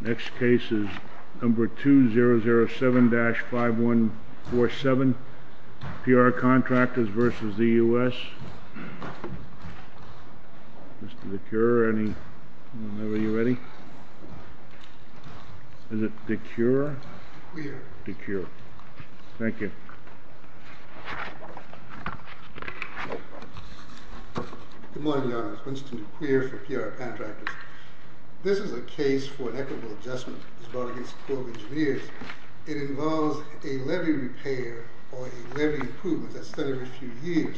Next case is number 2007-5147, P.R. Contractors v. the U.S. Mr. DeCure, are you ready? Is it DeCure? DeCure. DeCure. Thank you. Good morning, Your Honor. It's Winston DeCure for P.R. Contractors. This is a case for an equitable adjustment. It's brought against the Corps of Engineers. It involves a levy repair or a levy improvement that's done every few years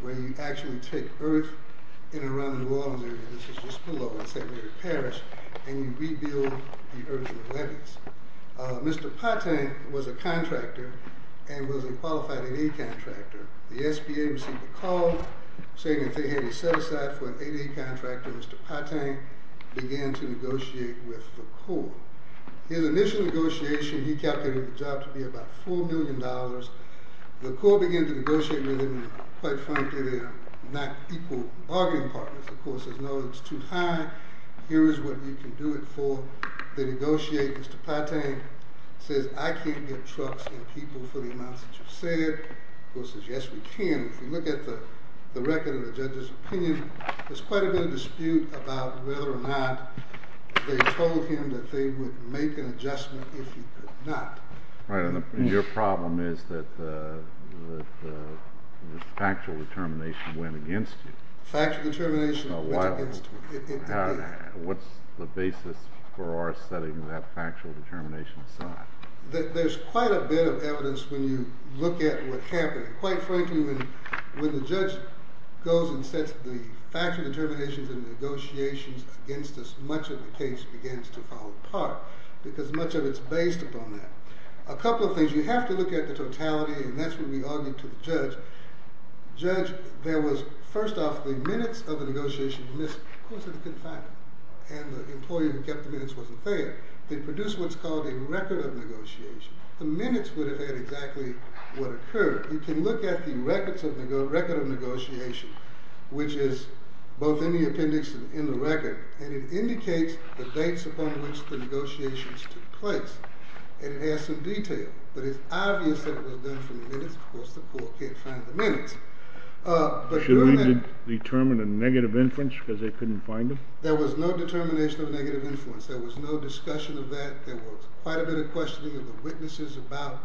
where you actually take earth in and around the New Orleans area, this is just below in St. Mary Parish, and you rebuild the earth in the levees. Mr. Patang was a contractor and was a qualified 8A contractor. The SBA received a call saying that they had to set aside for an 8A contractor. Mr. Patang began to negotiate with the Corps. His initial negotiation, he calculated the job to be about $4 million. The Corps began to negotiate with him, and quite frankly, they're not equal bargaining partners. The Corps says, no, it's too high. Here is what you can do it for. They negotiate. Mr. Patang says, I can't get trucks and people for the amounts that you've said. The Corps says, yes, we can. If you look at the record of the judge's opinion, there's quite a bit of dispute about whether or not they told him that they would make an adjustment if he could not. Your problem is that the factual determination went against you. Factual determination went against me. What's the basis for our setting that factual determination aside? There's quite a bit of evidence when you look at what happened. Quite frankly, when the judge goes and sets the factual determinations and negotiations against us, much of the case begins to fall apart because much of it is based upon that. A couple of things. You have to look at the totality, and that's what we argued to the judge. Judge, there was, first off, the minutes of the negotiations missed. Of course, it's a good fact, and the employee who kept the minutes wasn't there. They produced what's called a record of negotiation. The minutes would have had exactly what occurred. You can look at the record of negotiation, which is both in the appendix and in the record, and it indicates the dates upon which the negotiations took place, and it has some detail, but it's obvious that it was done from the minutes. Of course, the court can't find the minutes. Should we determine a negative influence because they couldn't find them? There was no determination of negative influence. There was no discussion of that. There was quite a bit of questioning of the witnesses about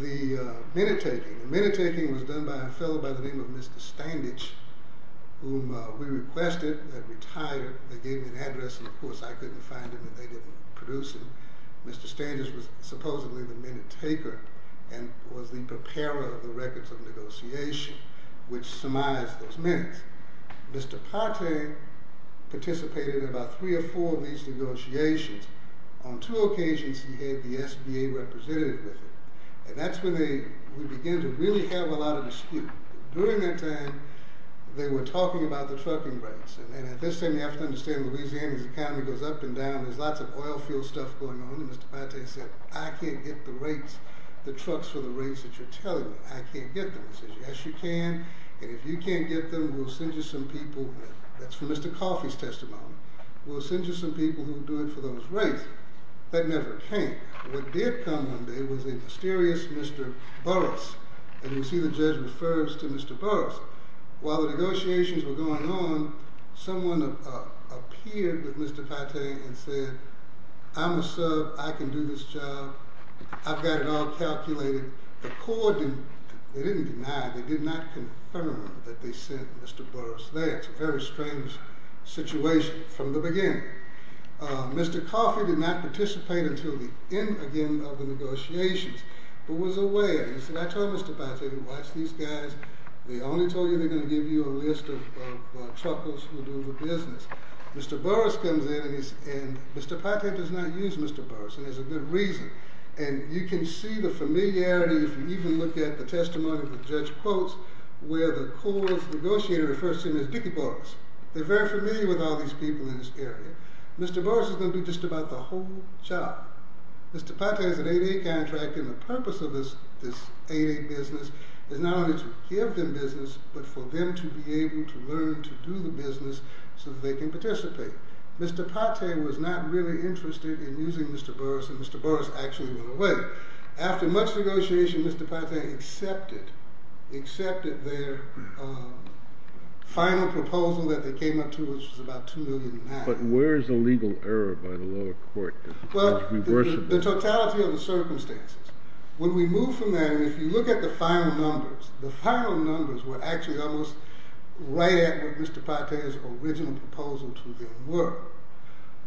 the minute-taking. The minute-taking was done by a fellow by the name of Mr. Standage, whom we requested had retired. They gave me an address, and, of course, I couldn't find him, and they didn't produce him. Mr. Standage was supposedly the minute-taker and was the preparer of the records of negotiation, which surmised those minutes. Mr. Partey participated in about three or four of these negotiations. On two occasions, he had the SBA representative with him, and that's when we began to really have a lot of dispute. During that time, they were talking about the trucking rates, and at this time, you have to understand Louisiana's economy goes up and down. There's lots of oil field stuff going on, and Mr. Partey said, I can't get the rates, the trucks for the rates that you're telling me. I can't get them. He said, yes, you can, and if you can't get them, we'll send you some people. That's from Mr. Coffey's testimony. We'll send you some people who will do it for those rates. That never came. What did come one day was a mysterious Mr. Burrus, and you see the judge refers to Mr. Burrus. While the negotiations were going on, someone appeared with Mr. Partey and said, I'm a sub. I can do this job. I've got it all calculated. They didn't deny. They did not confirm that they sent Mr. Burrus there. It's a very strange situation from the beginning. Mr. Coffey did not participate until the end, again, of the negotiations, but was aware. He said, I told Mr. Partey to watch these guys. They only told you they're going to give you a list of truckers who do the business. Mr. Burrus comes in, and Mr. Partey does not use Mr. Burrus, and there's a good reason. And you can see the familiarity, if you even look at the testimony of the judge quotes, where the court negotiator refers to him as Dickie Burrus. They're very familiar with all these people in this area. Mr. Burrus is going to do just about the whole job. Mr. Partey has an 8A contract, and the purpose of this 8A business is not only to give them business, but for them to be able to learn to do the business so that they can participate. Mr. Partey was not really interested in using Mr. Burrus, and Mr. Burrus actually went away. After much negotiation, Mr. Partey accepted their final proposal that they came up to, which was about $2 million. But where is the legal error by the lower court? Well, the totality of the circumstances. When we move from there, and if you look at the final numbers, the final numbers were actually almost right at what Mr. Partey's original proposal to them were.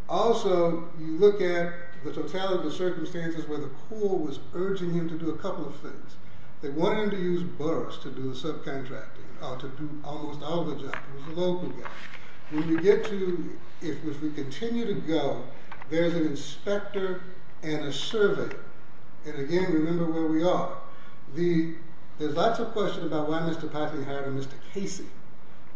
Also, you look at the totality of the circumstances where the court was urging him to do a couple of things. They wanted him to use Burrus to do the subcontracting, or to do almost all the job. It was a local guy. When we get to, if we continue to go, there's an inspector and a surveyor. And again, remember where we are. There's lots of questions about why Mr. Partey hired a Mr. Casey.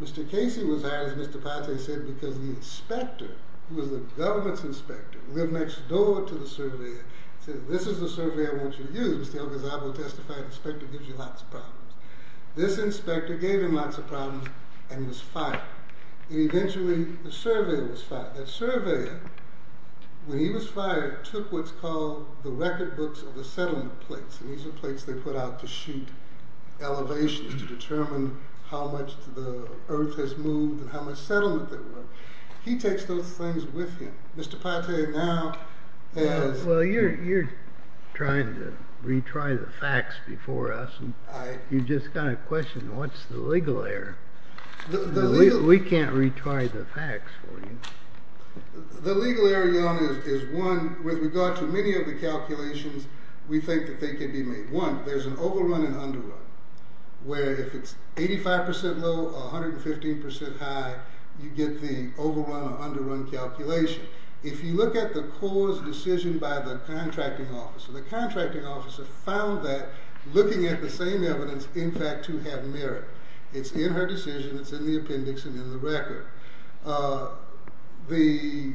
Mr. Casey was hired, as Mr. Partey said, because the inspector, who was the government's inspector, lived next door to the surveyor. He said, this is the surveyor I want you to use. Mr. Elgazabo testified, an inspector gives you lots of problems. This inspector gave him lots of problems and was fired. Eventually, the surveyor was fired. That surveyor, when he was fired, took what's called the record books of the settlement plates. These are plates they put out to shoot elevations to determine how much the earth has moved and how much settlement there was. He takes those things with him. Mr. Partey now has Well, you're trying to retry the facts before us. You just got a question, what's the legal error? We can't retry the facts for you. The legal error, John, is one, with regard to many of the calculations, we think that they could be made. One, there's an overrun and underrun, where if it's 85% low or 115% high, you get the overrun or underrun calculation. If you look at the cause decision by the contracting officer, the contracting officer found that, looking at the same evidence, in fact, two have merit. It's in her decision, it's in the appendix, and in the record. The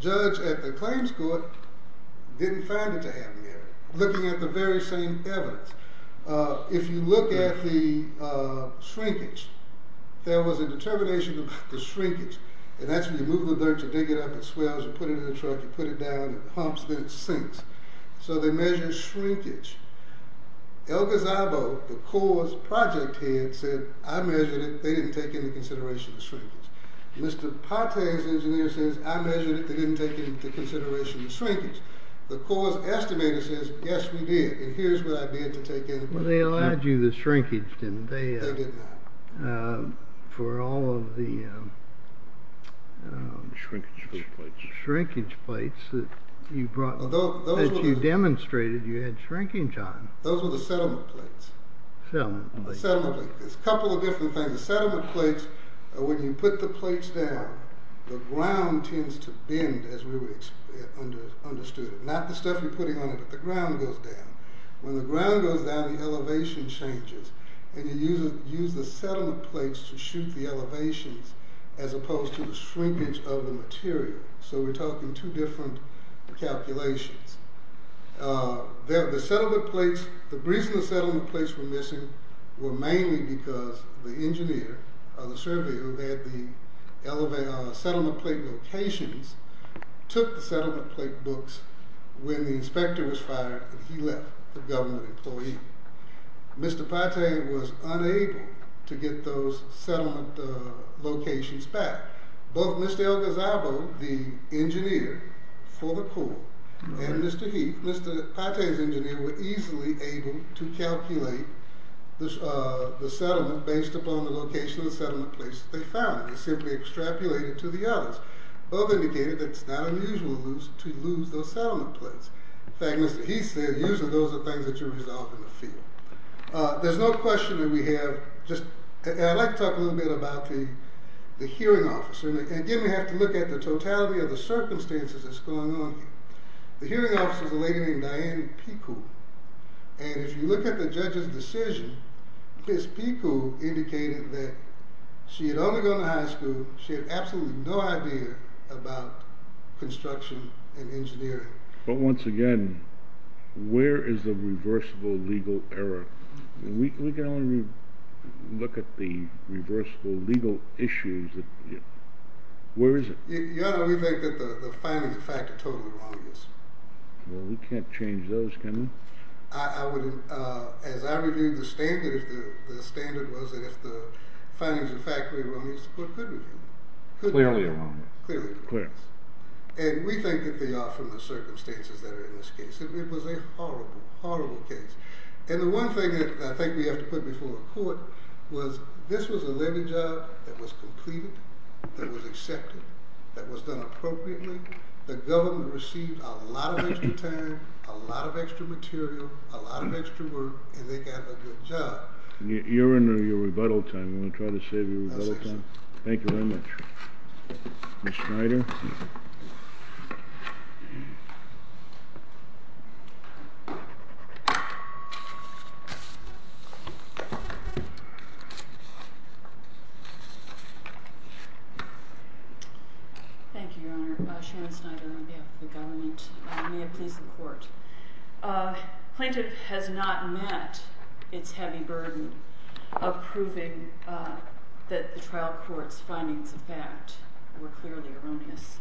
judge at the claims court didn't find it to have merit, looking at the very same evidence. If you look at the shrinkage, there was a determination about the shrinkage, and that's when you move the dirt, you dig it up, it swells, you put it in the truck, you put it down, it humps, then it sinks. So they measure shrinkage. El Gazzabo, the cause project head, said, I measured it, they didn't take into consideration the shrinkage. Mr. Pate, the engineer, says, I measured it, they didn't take into consideration the shrinkage. The cause estimator says, yes, we did, and here's what I did to take into account. They allowed you the shrinkage, didn't they? They did not. For all of the shrinkage plates that you brought, that you demonstrated you had shrinkage on. Those were the settlement plates. There's a couple of different things. The settlement plates, when you put the plates down, the ground tends to bend, as we understood it. Not the stuff you're putting on it, but the ground goes down. When the ground goes down, the elevation changes. And you use the settlement plates to shoot the elevations, as opposed to the shrinkage of the material. So we're talking two different calculations. The settlement plates, the reason the settlement plates were missing were mainly because the engineer, the surveyor, who had the settlement plate locations, took the settlement plate books when the inspector was fired and he left, the government employee. Mr. Pate was unable to get those settlement locations back. Both Mr. El Gazzabo, the engineer for the Corps, and Mr. Heath, Mr. Pate's engineer, were easily able to calculate the settlement based upon the location of the settlement plates that they found. They simply extrapolated to the others. Both indicated that it's not unusual to lose those settlement plates. In fact, Mr. Heath said, usually those are the things that you resolve in the field. There's no question that we have just... Again, we have to look at the totality of the circumstances that's going on here. The hearing officer is a lady named Diane Picou. And if you look at the judge's decision, Ms. Picou indicated that she had only gone to high school, she had absolutely no idea about construction and engineering. But once again, where is the reversible legal error? We can only look at the reversible legal issues Where is it? We think that the findings of fact are totally wrong. Well, we can't change those, can we? As I reviewed the standard, the standard was that if the findings of fact were wrong, the court couldn't review them. Clearly wrong. Clearly wrong. And we think that they are from the circumstances that are in this case. It was a horrible, horrible case. And the one thing that I think we have to put before the court was this was a legal job that was completed, that was accepted, that was done appropriately. The government received a lot of extra time, a lot of extra material, a lot of extra work, and they got a good job. You're in your rebuttal time. You want to try to save your rebuttal time? I'll save some. Thank you very much. Ms. Schneider. Thank you, Your Honor. Sharon Schneider on behalf of the government. May it please the court. Plaintiff has not met its heavy burden of proving that the trial court's findings of fact were clearly erroneous.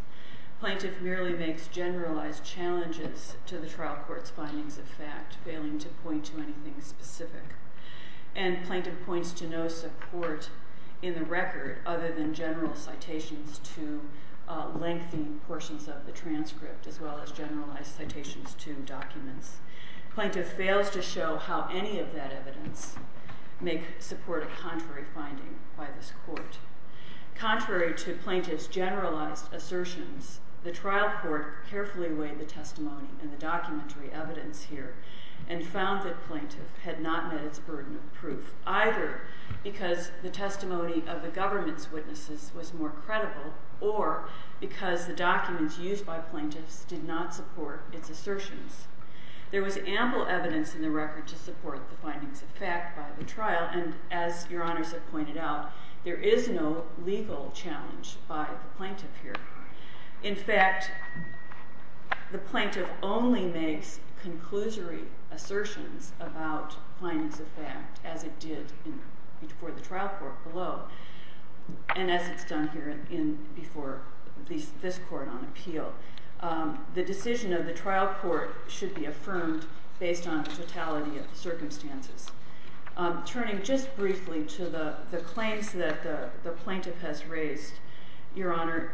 Plaintiff merely makes generalized challenges to the trial court's findings of fact, failing to point to anything specific. And plaintiff points to no support in the record other than general citations to lengthy portions of the transcript as well as generalized citations to documents. Plaintiff fails to show how any of that evidence may support a contrary finding by this court. Contrary to plaintiff's generalized assertions, the trial court carefully weighed the testimony and the documentary evidence here and found that plaintiff had not met its burden of proof, either because the testimony of the government's witnesses was more credible or because the documents used by plaintiffs did not support its assertions. There was ample evidence in the record to support the findings of fact by the trial, and as Your Honors have pointed out, there is no legal challenge by the plaintiff here. In fact, the plaintiff only makes conclusory assertions about findings of fact as it did for the trial court below and as it's done here before this court on appeal. The decision of the trial court should be affirmed based on the totality of the circumstances. Turning just briefly to the claims that the plaintiff has raised, Your Honor,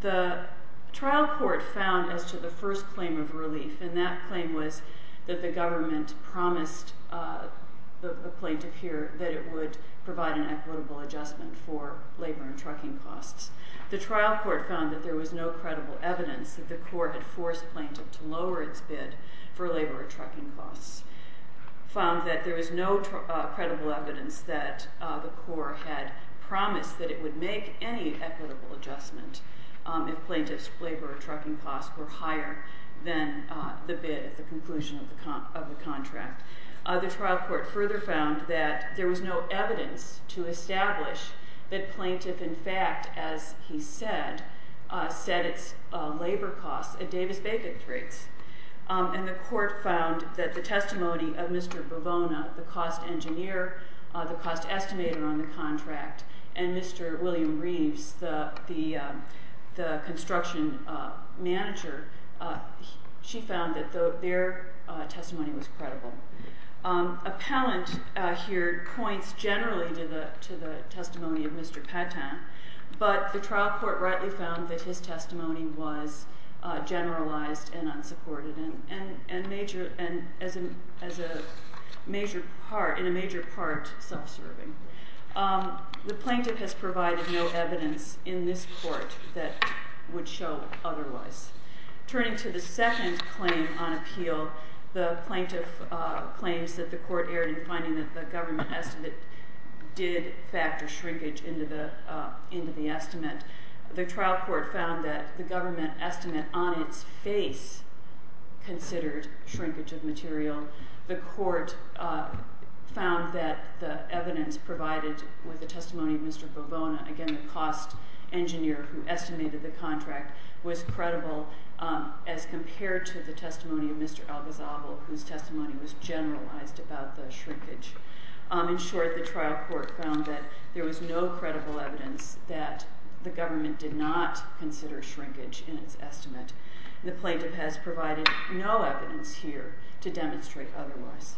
the trial court found as to the first claim of relief, and that claim was that the government promised the plaintiff here that it would provide an equitable adjustment for labor and trucking costs. The trial court found that there was no credible evidence that the court had forced plaintiff to lower its bid for labor and trucking costs, found that there was no credible evidence that the court had promised that it would make any equitable adjustment if plaintiff's labor or trucking costs were higher than the bid at the conclusion of the contract. The trial court further found that there was no evidence to establish that plaintiff, in fact, as he said, set its labor costs at Davis-Bacon rates. And the court found that the testimony of Mr. Bovona, the cost engineer, the cost estimator on the contract, and Mr. William Reeves, the construction manager, she found that their testimony was credible. Appellant here points generally to the testimony of Mr. Patton, but the trial court rightly found that his testimony was generalized and unsupported, and in a major part self-serving. The plaintiff has provided no evidence in this court that would show otherwise. Turning to the second claim on appeal, the plaintiff claims that the court erred in finding that the government estimate did factor shrinkage into the estimate. The trial court found that the government estimate on its face considered shrinkage of material. The court found that the evidence provided with the testimony of Mr. Bovona, again the cost engineer who estimated the contract, was credible as compared to the testimony of Mr. Al-Ghazal, whose testimony was generalized about the shrinkage. In short, the trial court found that there was no credible evidence that the government did not consider shrinkage in its estimate. The plaintiff has provided no evidence here to demonstrate otherwise.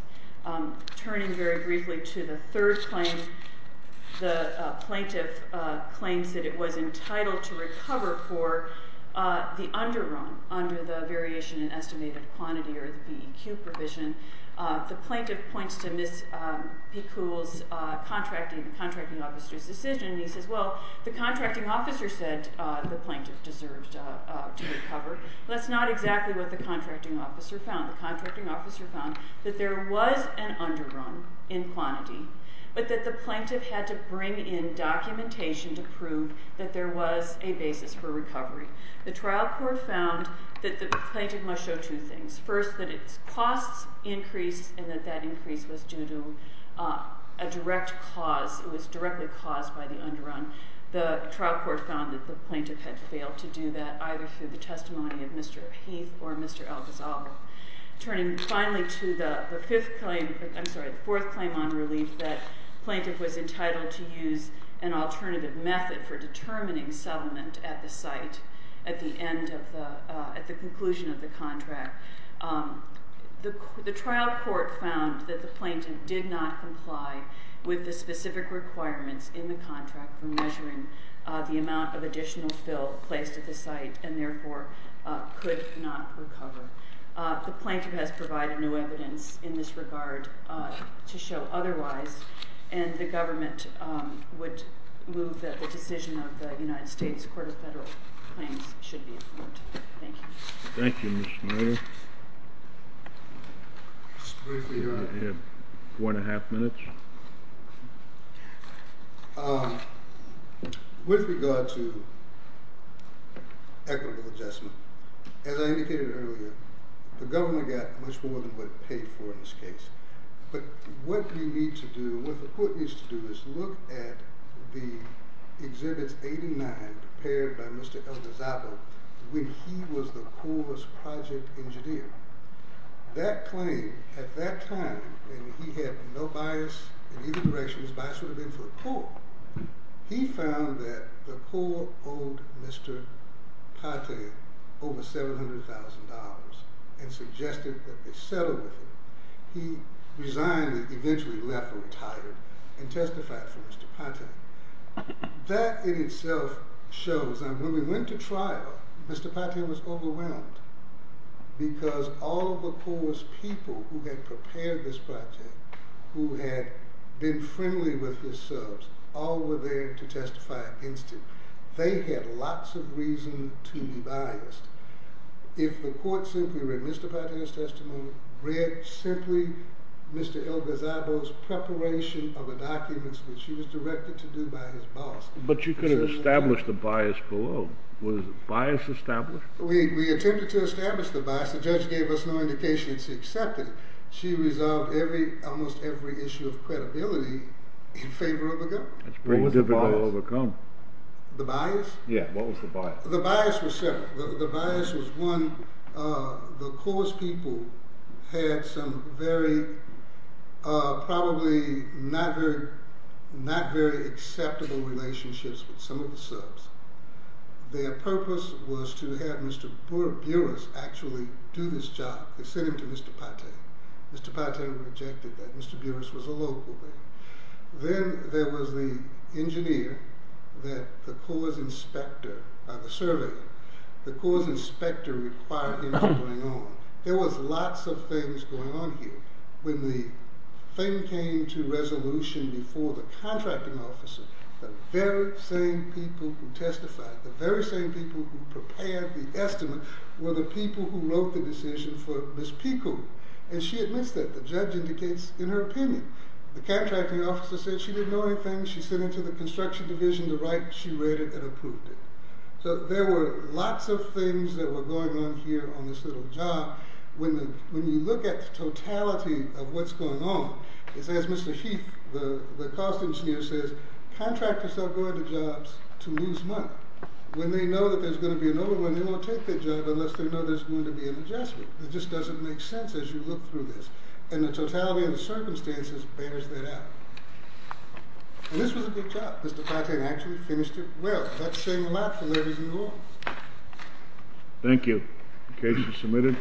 Turning very briefly to the third claim, the plaintiff claims that it was entitled to recover for the underwrong under the variation in estimated quantity or the PEQ provision. The plaintiff points to Ms. Picoult's contracting, the contracting officer's decision, and he says, well, the contracting officer said that the plaintiff deserved to recover. That's not exactly what the contracting officer found. The contracting officer found that there was an underwrong in quantity, but that the plaintiff had to bring in documentation to prove that there was a basis for recovery. The trial court found that the plaintiff must show two things. First, that its costs increased and that that increase was due to a direct cause. It was directly caused by the underwrong. The trial court found that the plaintiff had failed to do that either through the testimony of Mr. Heath or Mr. Alcazaba. Turning finally to the fifth claim, I'm sorry, the fourth claim on relief, that the plaintiff was entitled to use an alternative method for determining settlement at the site at the conclusion of the contract. The trial court found that the plaintiff did not comply with the specific requirements in the contract for measuring the amount of additional fill placed at the site and therefore could not recover. The plaintiff has provided no evidence in this regard to show otherwise, and the government would move that the decision of the United States Court of Federal Claims should be approved. Thank you. Thank you, Ms. Schneider. Just briefly here, I have one and a half minutes. With regard to equitable adjustment, as I indicated earlier, the government got much more than what it paid for in this case. But what we need to do, what the court needs to do, is look at the Exhibits 8 and 9 prepared by Mr. Alcazaba when he was the Corps' project engineer. That claim, at that time, when he had no bias in either direction, his bias would have been for the Corps, he found that the Corps owed Mr. Pate over $700,000 and suggested that they settle with him. He resigned and eventually left or retired and testified for Mr. Pate. That in itself shows that when we went to trial, Mr. Pate was overwhelmed because all of the Corps' people who had prepared this project, who had been friendly with his subs, all were there to testify against him. They had lots of reason to be biased. If the court simply read Mr. Pate's testimony, read simply Mr. Alcazaba's preparation of the documents which he was directed to do by his boss... But you could have established the bias below. Was bias established? We attempted to establish the bias. The judge gave us no indication it's accepted. She resolved almost every issue of credibility in favor of a gun. What was the bias? The bias? Yeah, what was the bias? The bias was separate. The bias was, one, the Corps' people had some probably not very acceptable relationships with some of the subs. Their purpose was to have Mr. Buras actually do this job. They sent him to Mr. Pate. Mr. Pate rejected that. Mr. Buras was a local there. Then there was the engineer that the Corps' inspector, by the survey, the Corps' inspector required him to bring on. There was lots of things going on here. When the thing came to resolution before the contracting officer, the very same people who testified, the very same people who prepared the estimate were the people who wrote the decision for Ms. Pico. And she admits that. The judge indicates in her opinion. The contracting officer said she didn't know anything. She sent it to the construction division to write. She read it and approved it. So there were lots of things that were going on here on this little job. When you look at the totality of what's going on, as Mr. Heath, the cost engineer, says, contractors don't go into jobs to lose money. When they know that there's going to be another one, they won't take that job unless they know there's going to be an adjustment. It just doesn't make sense as you look through this. And the totality of the circumstances bears that out. And this was a good job. Mr. Pate actually finished it well. That's saying a lot for ladies and gents. Thank you. The case is submitted.